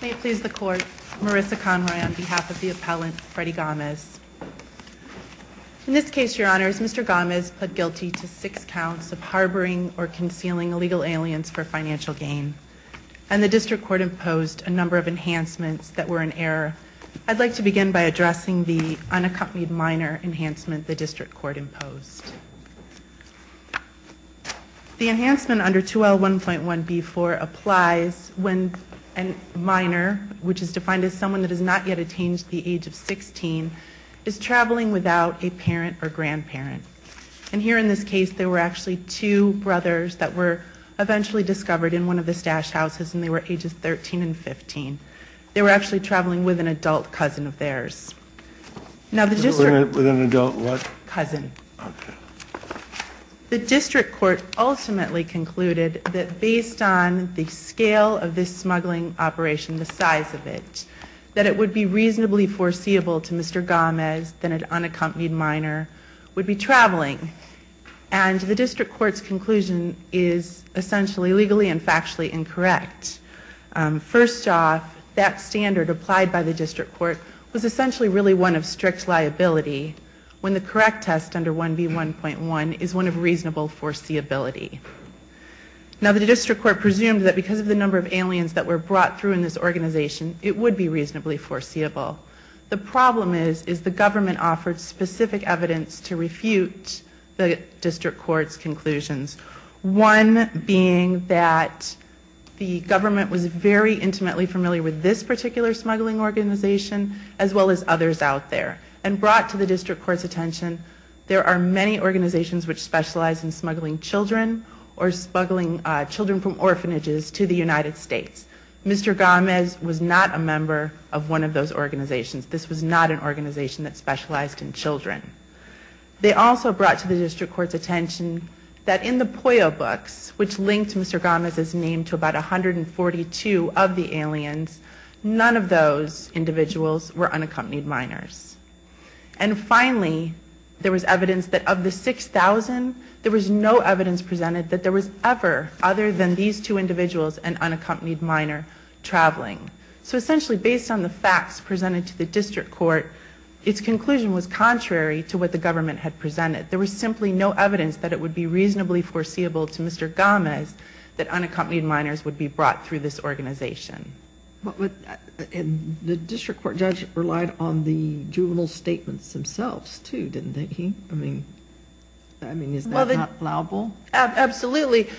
May it please the court, Marissa Conroy on behalf of the appellant, Fredy Gomez. In this case, your honors, Mr. Gomez pled guilty to six counts of harboring or concealing illegal aliens for financial gain, and the district court imposed a number of enhancements that were in error. I'd like to begin by addressing the unaccompanied minor enhancement the district court imposed. The enhancement under 2L1.1B4 applies when a minor, which is defined as someone that has not yet attained the age of 16, is traveling without a parent or grandparent. And here in this case, there were actually two brothers that were eventually discovered in one of the stash houses, and they were ages 13 and 15. They were actually traveling with an adult cousin of theirs. With an adult what? Cousin. Okay. The district court ultimately concluded that based on the scale of this smuggling operation, the size of it, that it would be reasonably foreseeable to Mr. Gomez that an unaccompanied minor would be traveling. And the district court's conclusion is essentially legally and factually incorrect. First off, that standard applied by the district court was essentially really one of strict liability when the correct test under 1B1.1 is one of reasonable foreseeability. Now the district court presumed that because of the number of aliens that were brought through in this organization, it would be reasonably foreseeable. The problem is, is the government offered specific evidence to refute the district court's conclusions. One being that the government was very intimately familiar with this particular smuggling organization as well as others out there, and brought to the district court's attention there are many organizations which specialize in smuggling children or smuggling children from orphanages to the United States. Mr. Gomez was not a member of one of those organizations. This was not an organization that specialized in children. They also brought to the district court's attention that in the POYO books, which linked Mr. Gomez's name to about 142 of the aliens, none of those individuals were unaccompanied minors. And finally, there was evidence that of the 6,000, there was no evidence presented that there was ever other than these two individuals and unaccompanied minor traveling. So essentially, based on the facts presented to the district court, its conclusion was contrary to what the government had presented. There was simply no evidence that it would be reasonably foreseeable to Mr. Gomez that unaccompanied minors would be brought through this organization. The district court judge relied on the juvenile statements themselves too, didn't he? I mean, is that not allowable? Absolutely.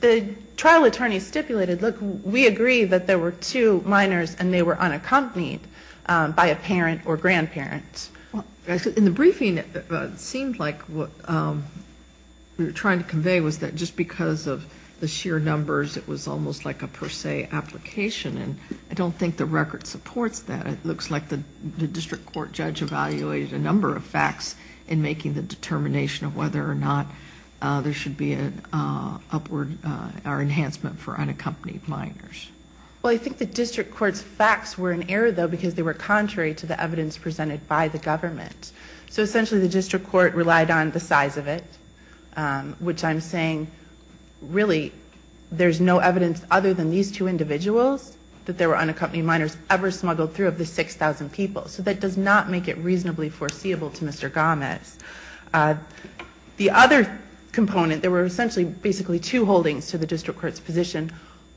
The trial attorney stipulated, look, we agree that there were two minors and they were unaccompanied by a parent or grandparent. In the briefing, it seemed like what we were trying to convey was that just because of the sheer numbers, it was almost like a per se application, and I don't think the record supports that. It looks like the district court judge evaluated a number of facts in making the determination of whether or not there should be an upward or enhancement for unaccompanied minors. Well, I think the district court's facts were in error, though, because they were contrary to the evidence presented by the government. So essentially, the district court relied on the size of it, which I'm saying really there's no evidence other than these two individuals that there were unaccompanied minors ever smuggled through of the 6,000 people. So that does not make it reasonably foreseeable to Mr. Gomez. The other component, there were essentially basically two holdings to the district court's position,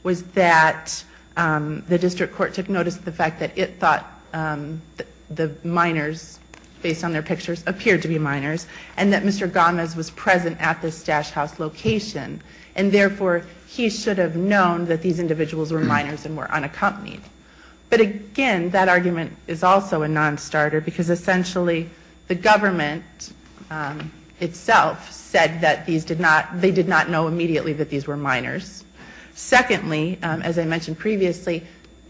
was that the district court took notice of the fact that it thought the minors, based on their pictures, appeared to be minors, and that Mr. Gomez was present at this stash house location, and therefore he should have known that these individuals were minors and were unaccompanied. But again, that argument is also a non-starter, because essentially the government itself said that they did not know immediately that these were minors. Secondly, as I mentioned previously,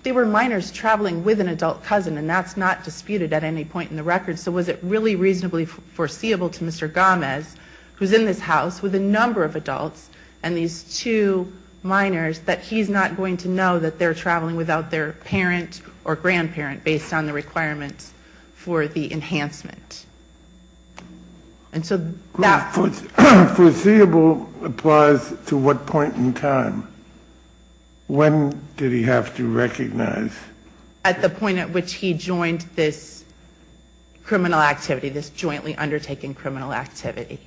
they were minors traveling with an adult cousin, and that's not disputed at any point in the record. So was it really reasonably foreseeable to Mr. Gomez, who's in this house with a number of adults and these two minors, that he's not going to know that they're traveling without their parent or grandparent, based on the requirements for the enhancement? And so that... Foreseeable applies to what point in time? When did he have to recognize? At the point at which he joined this criminal activity, this jointly undertaking criminal activity.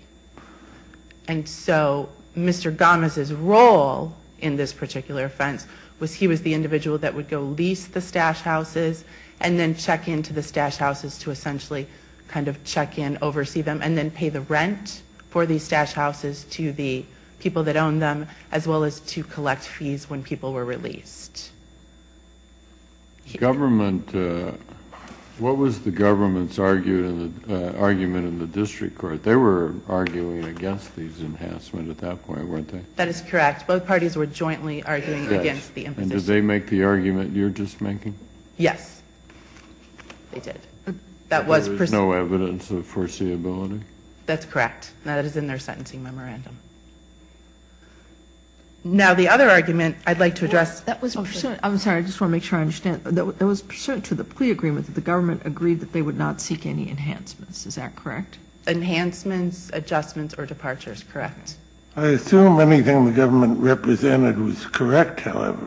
And so Mr. Gomez's role in this particular offense was he was the individual that would go lease the stash houses and then check into the stash houses to essentially kind of check in, oversee them, and then pay the rent for these stash houses to the people that own them, as well as to collect fees when people were released. Government... What was the government's argument in the district court? They were arguing against these enhancements at that point, weren't they? That is correct. Both parties were jointly arguing against the imposition. And did they make the argument you're just making? Yes, they did. There was no evidence of foreseeability? That's correct. That is in their sentencing memorandum. Now the other argument I'd like to address... I'm sorry. I just want to make sure I understand. It was pursuant to the plea agreement that the government agreed that they would not seek any enhancements. Is that correct? Enhancements, adjustments, or departures. Correct. I assume anything the government represented was correct, however.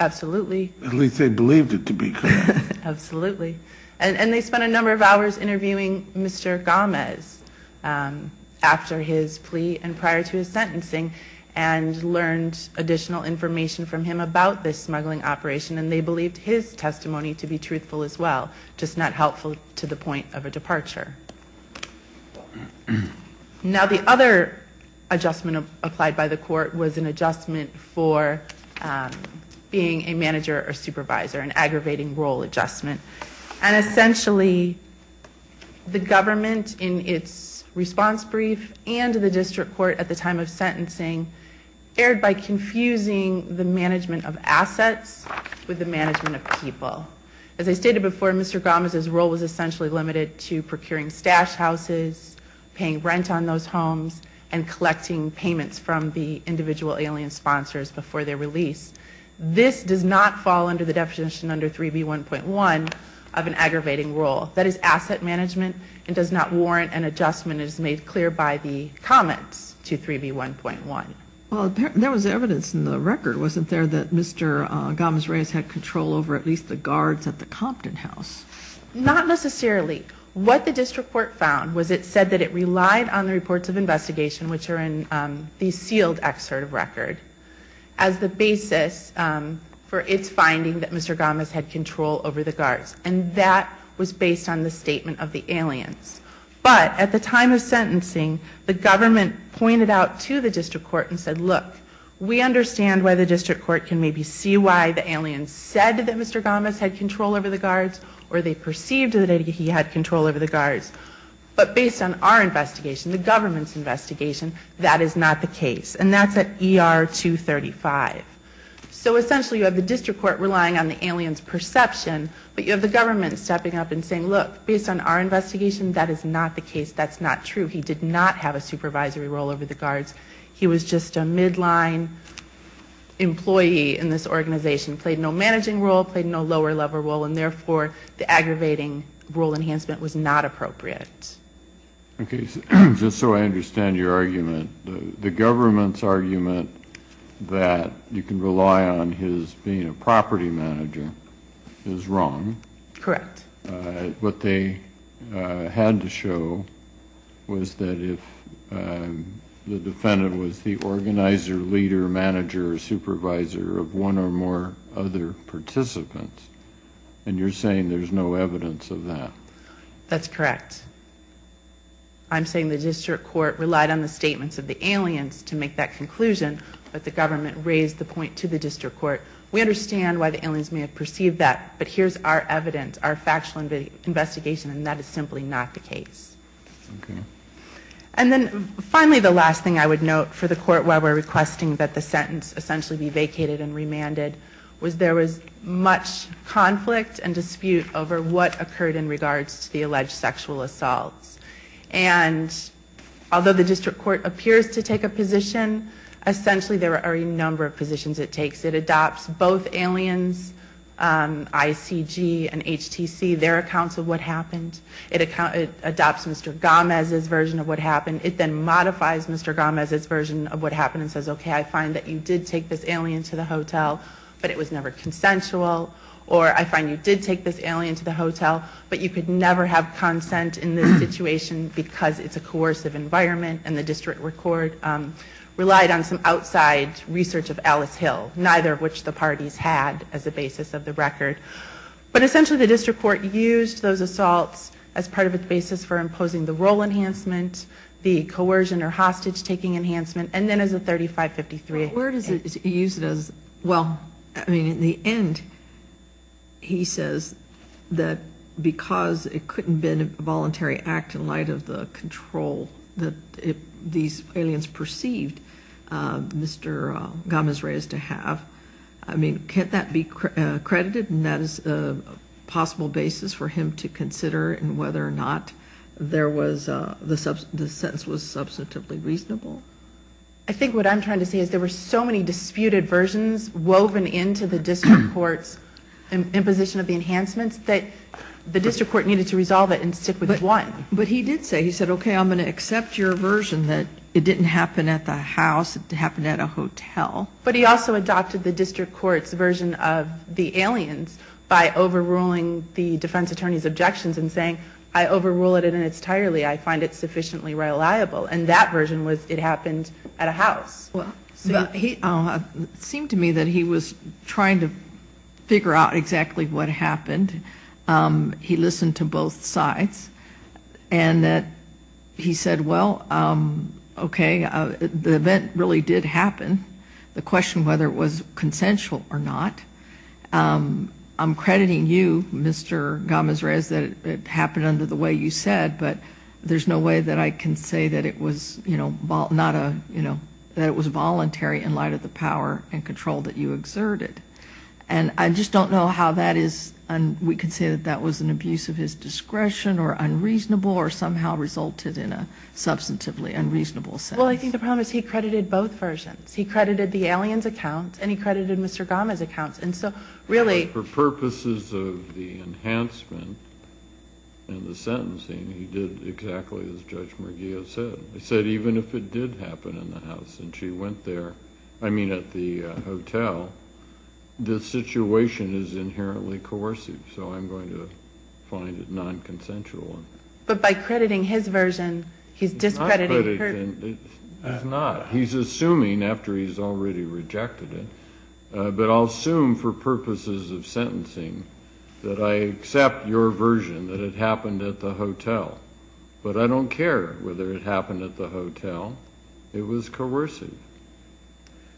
Absolutely. At least they believed it to be correct. Absolutely. And they spent a number of hours interviewing Mr. Gomez after his plea and prior to his sentencing and learned additional information from him about this smuggling operation, and they believed his testimony to be truthful as well, just not helpful to the point of a departure. Now the other adjustment applied by the court was an adjustment for being a manager or supervisor, an aggravating role adjustment. And essentially the government in its response brief and the district court at the time of sentencing erred by confusing the management of assets with the management of people. As I stated before, Mr. Gomez's role was essentially limited to procuring stash houses, paying rent on those homes, and collecting payments from the individual alien sponsors before their release. This does not fall under the definition under 3B1.1 of an aggravating role. That is asset management and does not warrant an adjustment as made clear by the comments to 3B1.1. Well, there was evidence in the record, wasn't there, that Mr. Gomez-Reyes had control over at least the guards at the Compton house? Not necessarily. What the district court found was it said that it relied on the reports of investigation, which are in the sealed excerpt of record, as the basis for its finding that Mr. Gomez had control over the guards. And that was based on the statement of the aliens. But at the time of sentencing, the government pointed out to the district court and said, look, we understand why the district court can maybe see why the aliens said that Mr. Gomez had control over the guards or they perceived that he had control over the guards. But based on our investigation, the government's investigation, that is not the case. And that's at ER 235. So essentially you have the district court relying on the alien's perception, but you have the government stepping up and saying, look, based on our investigation, that is not the case. That's not true. He did not have a supervisory role over the guards. He was just a midline employee in this organization, played no managing role, played no lower level role, and therefore the aggravating rule enhancement was not appropriate. Okay. Just so I understand your argument, the government's argument that you can rely on his being a property manager is wrong. Correct. What they had to show was that if the defendant was the organizer, leader, manager, or supervisor of one or more other participants, and you're saying there's no evidence of that. That's correct. I'm saying the district court relied on the statements of the aliens to make that conclusion, but the government raised the point to the district court. We understand why the aliens may have perceived that, but here's our evidence, our factual investigation, and that is simply not the case. Okay. And then finally the last thing I would note for the court while we're requesting that the sentence essentially be vacated and remanded was there was much conflict and dispute over what occurred in regards to the alleged sexual assaults. And although the district court appears to take a position, essentially there are a number of positions it takes. It adopts both aliens, ICG and HTC, their accounts of what happened. It adopts Mr. Gomez's version of what happened. It then modifies Mr. Gomez's version of what happened and says, okay, I find that you did take this alien to the hotel, but it was never consensual, or I find you did take this alien to the hotel, but you could never have consent in this situation because it's a coercive environment, and the district court relied on some outside research of Alice Hill, neither of which the parties had as a basis of the record. But essentially the district court used those assaults as part of a basis for imposing the role enhancement, the coercion or hostage-taking enhancement, and then as a 3553. Where does it use it as? Well, I mean, in the end he says that because it couldn't have been a voluntary act in light of the control that these aliens perceived Mr. Gomez-Reyes to have. I mean, can't that be credited? And that is a possible basis for him to consider in whether or not the sentence was substantively reasonable. I think what I'm trying to say is there were so many disputed versions woven into the district court's imposition of the enhancements that the district court needed to resolve it and stick with one. But he did say, he said, okay, I'm going to accept your version that it didn't happen at the house, it happened at a hotel. But he also adopted the district court's version of the aliens by overruling the defense attorney's objections and saying, I overrule it and it's tirely, I find it sufficiently reliable. And that version was it happened at a house. It seemed to me that he was trying to figure out exactly what happened. He listened to both sides. And he said, well, okay, the event really did happen. The question whether it was consensual or not, I'm crediting you, Mr. Gomez-Reyes, that it happened under the way you said, but there's no way that I can say that it was voluntary in light of the power and control that you exerted. And I just don't know how that is, we could say that that was an abuse of his discretion or unreasonable or somehow resulted in a substantively unreasonable sentence. Well, I think the problem is he credited both versions. He credited the aliens' accounts and he credited Mr. Gomez' accounts. And so, really. For purposes of the enhancement and the sentencing, he did exactly as Judge Murillo said. He said even if it did happen in the house and she went there, I mean at the hotel, the situation is inherently coercive. So I'm going to find it non-consensual. But by crediting his version, he's discrediting hers. He's not. He's assuming after he's already rejected it. But I'll assume for purposes of sentencing that I accept your version that it happened at the hotel. But I don't care whether it happened at the hotel. It was coercive.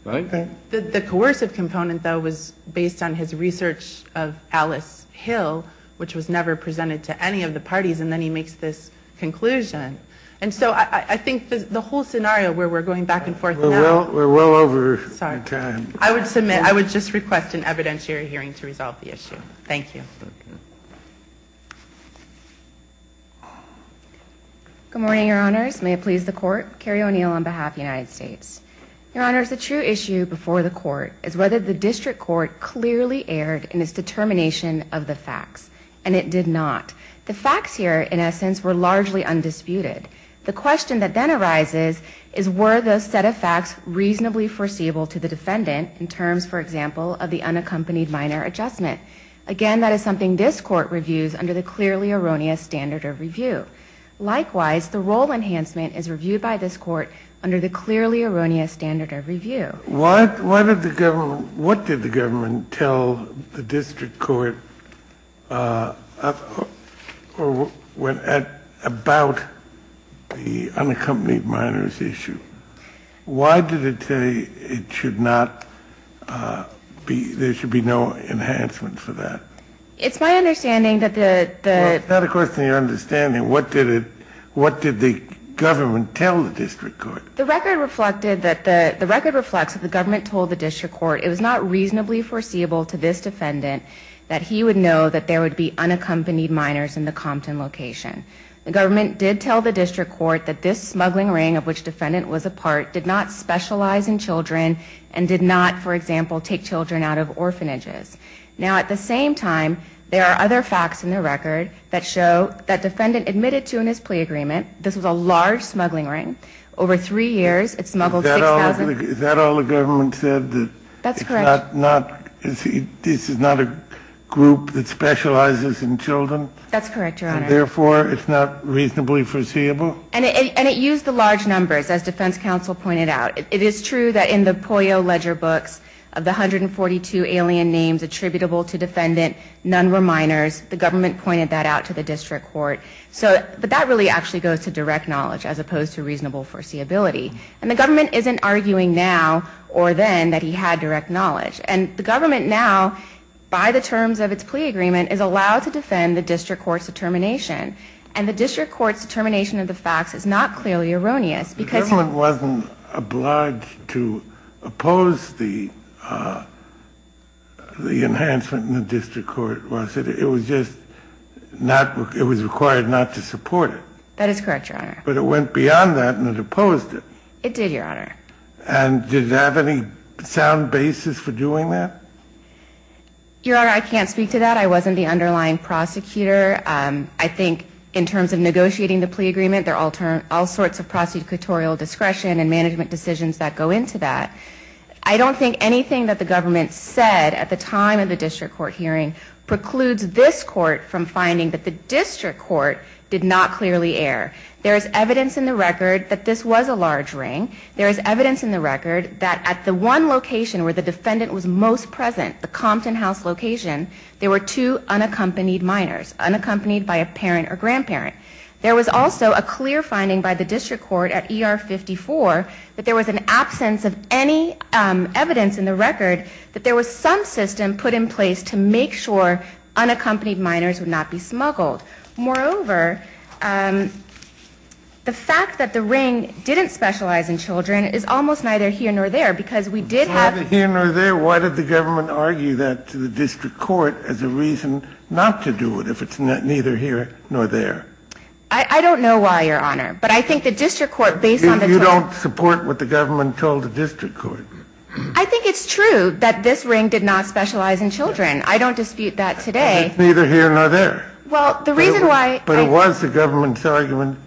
I think that. The coercive component, though, was based on his research of Alice Hill, which was never presented to any of the parties, and then he makes this conclusion. And so I think the whole scenario where we're going back and forth. We're well over time. I would just request an evidentiary hearing to resolve the issue. Thank you. Good morning, Your Honors. May it please the Court. Carrie O'Neill on behalf of the United States. Your Honors, the true issue before the Court is whether the District Court clearly erred in its determination of the facts, and it did not. The facts here, in essence, were largely undisputed. The question that then arises is, were the set of facts reasonably foreseeable to the defendant in terms, for example, of the unaccompanied minor adjustment? under the clearly erroneous standard of review. Likewise, the role enhancement is reviewed by this Court under the clearly erroneous standard of review. What did the government tell the District Court about the unaccompanied minors issue? Why did it say it should not be, there should be no enhancement for that? It's my understanding that the It's not a question of understanding. What did the government tell the District Court? The record reflects that the government told the District Court it was not reasonably foreseeable to this defendant that he would know that there would be unaccompanied minors in the Compton location. The government did tell the District Court that this smuggling ring of which defendant was a part did not specialize in children and did not, for example, take children out of orphanages. Now, at the same time, there are other facts in the record that show that defendant admitted to in his plea agreement this was a large smuggling ring. Over three years, it smuggled 6,000 Is that all the government said? That's correct. This is not a group that specializes in children? That's correct, Your Honor. Therefore, it's not reasonably foreseeable? And it used the large numbers, as defense counsel pointed out. It is true that in the Pollo ledger books of the 142 alien names attributable to defendant, none were minors. The government pointed that out to the District Court. But that really actually goes to direct knowledge as opposed to reasonable foreseeability. And the government isn't arguing now or then that he had direct knowledge. And the government now, by the terms of its plea agreement, is allowed to defend the District Court's determination. And the District Court's determination of the facts is not clearly erroneous. The government wasn't obliged to oppose the enhancement in the District Court, was it? It was just required not to support it. That is correct, Your Honor. But it went beyond that and it opposed it. It did, Your Honor. And did it have any sound basis for doing that? Your Honor, I can't speak to that. I wasn't the underlying prosecutor. I think in terms of negotiating the plea agreement, there are all sorts of prosecutorial discretion and management decisions that go into that. I don't think anything that the government said at the time of the District Court hearing precludes this Court from finding that the District Court did not clearly err. There is evidence in the record that this was a large ring. There is evidence in the record that at the one location where the defendant was most present, the Compton House location, there were two unaccompanied minors, unaccompanied by a parent or grandparent. There was also a clear finding by the District Court at ER 54 that there was an absence of any evidence in the record that there was some system put in place to make sure unaccompanied minors would not be smuggled. Moreover, the fact that the ring didn't specialize in children is almost neither here nor there because we did have... It's neither here nor there? Why did the government argue that to the District Court as a reason not to do it if it's neither here nor there? I don't know why, Your Honor. But I think the District Court, based on the... You don't support what the government told the District Court. I think it's true that this ring did not specialize in children. I don't dispute that today. It's neither here nor there. Well, the reason why... But it was the government's argument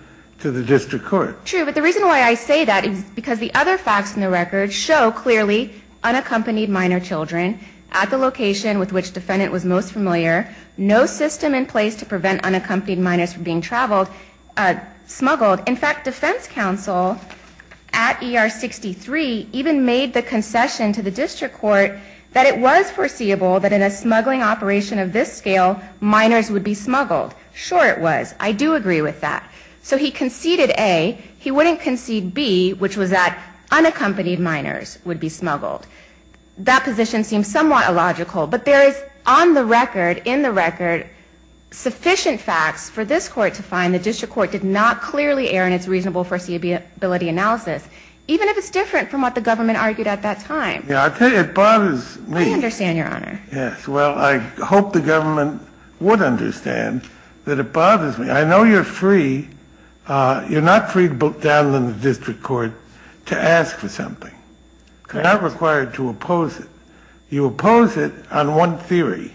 to the District Court. True. But the reason why I say that is because the other facts in the record show clearly unaccompanied minor children at the location with which defendant was most familiar, no system in place to prevent unaccompanied minors from being smuggled. In fact, defense counsel at ER 63 even made the concession to the District Court that it was foreseeable that in a smuggling operation of this scale, minors would be smuggled. Sure it was. I do agree with that. So he conceded A. He wouldn't concede B, which was that unaccompanied minors would be smuggled. That position seems somewhat illogical. But there is on the record, in the record, sufficient facts for this Court to find the District Court did not clearly err in its reasonable foreseeability analysis, even if it's different from what the government argued at that time. Yeah, it bothers me. I understand, Your Honor. Yes. Well, I hope the government would understand that it bothers me. I know you're free. You're not free to book down in the District Court to ask for something. Correct. You're not required to oppose it. You oppose it on one theory,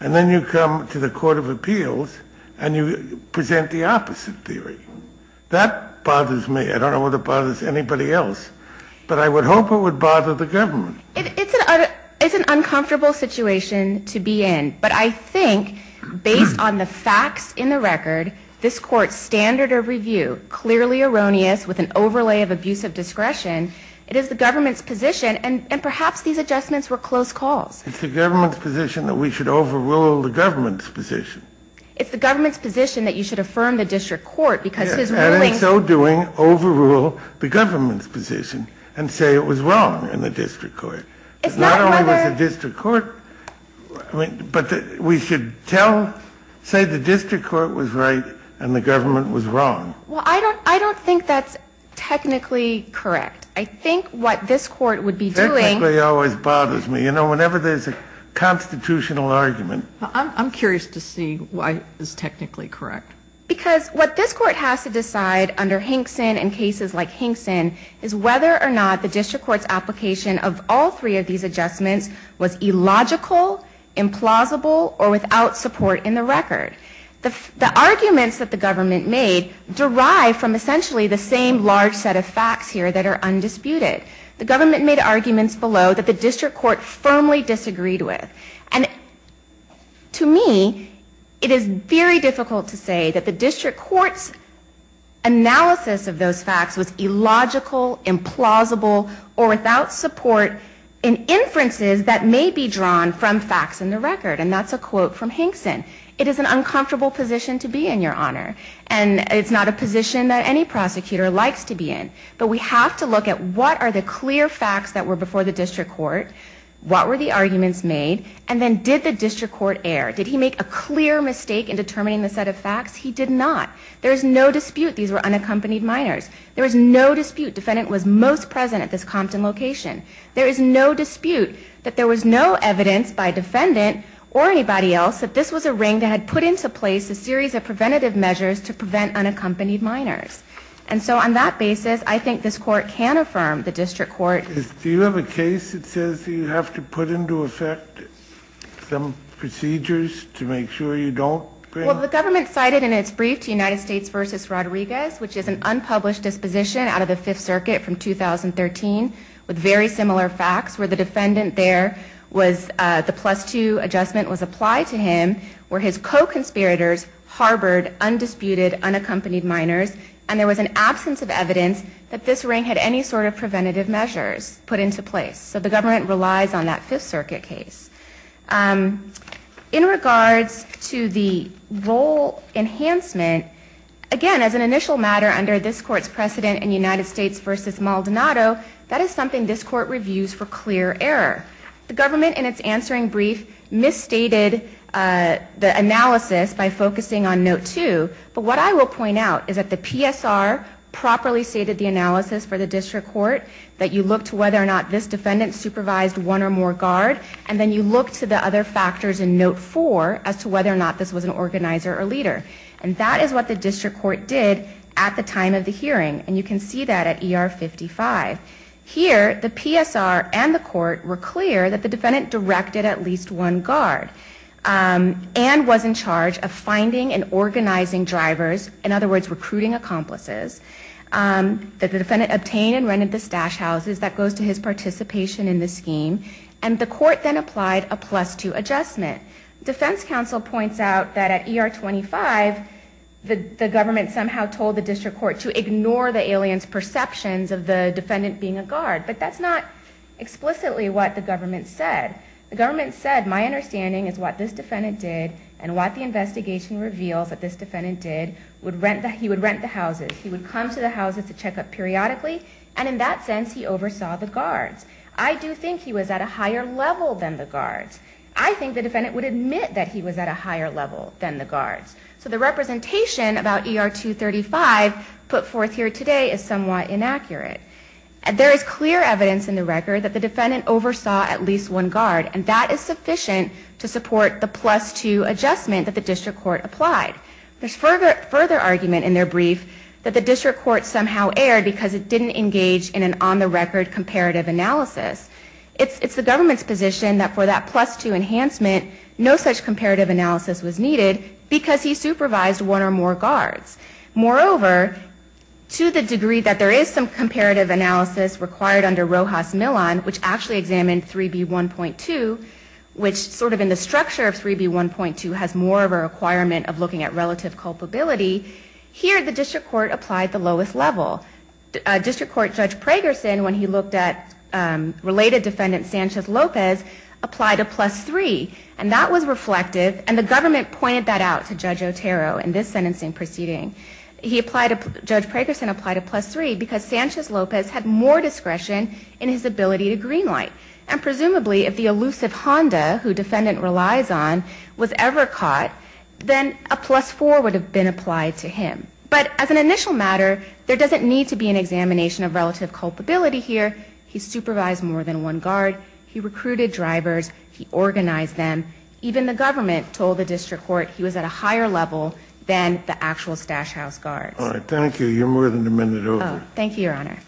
and then you come to the Court of Appeals and you present the opposite theory. That bothers me. I don't know what it bothers anybody else. But I would hope it would bother the government. It's an uncomfortable situation to be in. But I think, based on the facts in the record, this Court's standard of review, clearly erroneous with an overlay of abusive discretion, it is the government's position, and perhaps these adjustments were close calls. It's the government's position that we should overrule the government's position. It's the government's position that you should affirm the District Court, because his ruling... And in so doing, overrule the government's position and say it was wrong in the District Court. It's not whether... Not only was the District Court... But we should tell, say the District Court was right and the government was wrong. Well, I don't think that's technically correct. I think what this Court would be doing... Technically always bothers me. You know, whenever there's a constitutional argument... I'm curious to see why it's technically correct. Because what this Court has to decide under Hinkson and cases like Hinkson is whether or not the District Court's application of all three of these adjustments was illogical, implausible, or without support in the record. The arguments that the government made derive from essentially the same large set of facts here that are undisputed. The government made arguments below that the District Court firmly disagreed with. And to me, it is very difficult to say that the District Court's analysis of those facts was illogical, implausible, or without support in inferences that may be drawn from facts in the record. And that's a quote from Hinkson. It is an uncomfortable position to be in, Your Honor. And it's not a position that any prosecutor likes to be in. But we have to look at what are the clear facts that were before the District Court, what were the arguments made, and then did the District Court err? Did he make a clear mistake in determining the set of facts? He did not. There is no dispute these were unaccompanied minors. There is no dispute defendant was most present at this Compton location. There is no dispute that there was no evidence by defendant or anybody else that this was a ring that had put into place a series of preventative measures to prevent unaccompanied minors. And so on that basis, I think this Court can affirm the District Court... Do you have a case that says you have to put into effect some procedures to make sure you don't bring... Well, the government cited in its brief to United States v. Rodriguez, which is an unpublished disposition out of the Fifth Circuit from 2013 with very similar facts, where the defendant there was... the plus-two adjustment was applied to him, where his co-conspirators harbored undisputed unaccompanied minors, and there was an absence of evidence that this ring had any sort of preventative measures put into place. So the government relies on that Fifth Circuit case. In regards to the role enhancement, again, as an initial matter under this Court's precedent in United States v. Maldonado, that is something this Court reviews for clear error. The government, in its answering brief, misstated the analysis by focusing on Note 2, but what I will point out is that the PSR properly stated the analysis for the District Court, that you look to whether or not this defendant supervised one or more guard, and then you look to the other factors in Note 4 as to whether or not this was an organizer or leader. And that is what the District Court did at the time of the hearing, and you can see that at ER 55. Here, the PSR and the Court were clear that the defendant directed at least one guard, and was in charge of finding and organizing drivers, in other words, recruiting accomplices, that the defendant obtained and rented the stash houses, that goes to his participation in the scheme, and the Court then applied a Plus 2 adjustment. Defense counsel points out that at ER 25, the government somehow told the District Court to ignore the alien's perceptions of the defendant being a guard, but that's not explicitly what the government said. The government said, my understanding is what this defendant did, and what the investigation reveals that this defendant did, he would rent the houses, he would come to the houses to check up periodically, and in that sense, he oversaw the guards. I do think he was at a higher level than the guards. I think the defendant would admit that he was at a higher level than the guards. So the representation about ER 235 put forth here today is somewhat inaccurate. There is clear evidence in the record that the defendant oversaw at least one guard, and that is sufficient to support the Plus 2 adjustment that the District Court applied. There's further argument in their brief that the District Court somehow erred because it didn't engage in an on-the-record comparative analysis. It's the government's position that for that Plus 2 enhancement, no such comparative analysis was needed because he supervised one or more guards. Moreover, to the degree that there is some comparative analysis required under Rojas Millon, which actually examined 3B1.2, which sort of in the structure of 3B1.2 has more of a requirement of looking at relative culpability, here the District Court applied the lowest level. District Court Judge Pragerson, when he looked at related defendant Sanchez-Lopez, applied a Plus 3, and that was reflective, and the government pointed that out to Judge Otero in this sentencing proceeding. Judge Pragerson applied a Plus 3 because Sanchez-Lopez had more discretion in his ability to greenlight, and presumably if the elusive Honda, who defendant relies on, was ever caught, then a Plus 4 would have been applied to him. But as an initial matter, there doesn't need to be an examination of relative culpability here. He supervised more than one guard. He recruited drivers. He organized them. Even the government told the District Court he was at a higher level than the actual stash house guards. All right, thank you. You're more than a minute over. Thank you, Your Honor.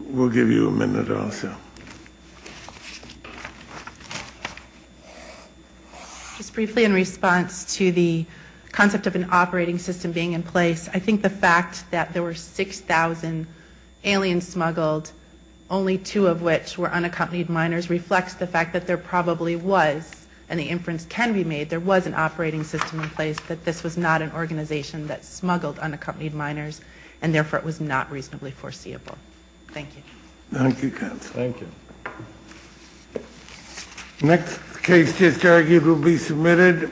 We'll give you a minute also. Just briefly in response to the concept of an operating system being in place, I think the fact that there were 6,000 aliens smuggled, only two of which were unaccompanied minors, reflects the fact that there probably was, and the inference can be made, there was an operating system in place, that this was not an organization that smuggled unaccompanied minors, and therefore it was not reasonably foreseeable. Thank you. Thank you, counsel. Next case to argue will be submitted.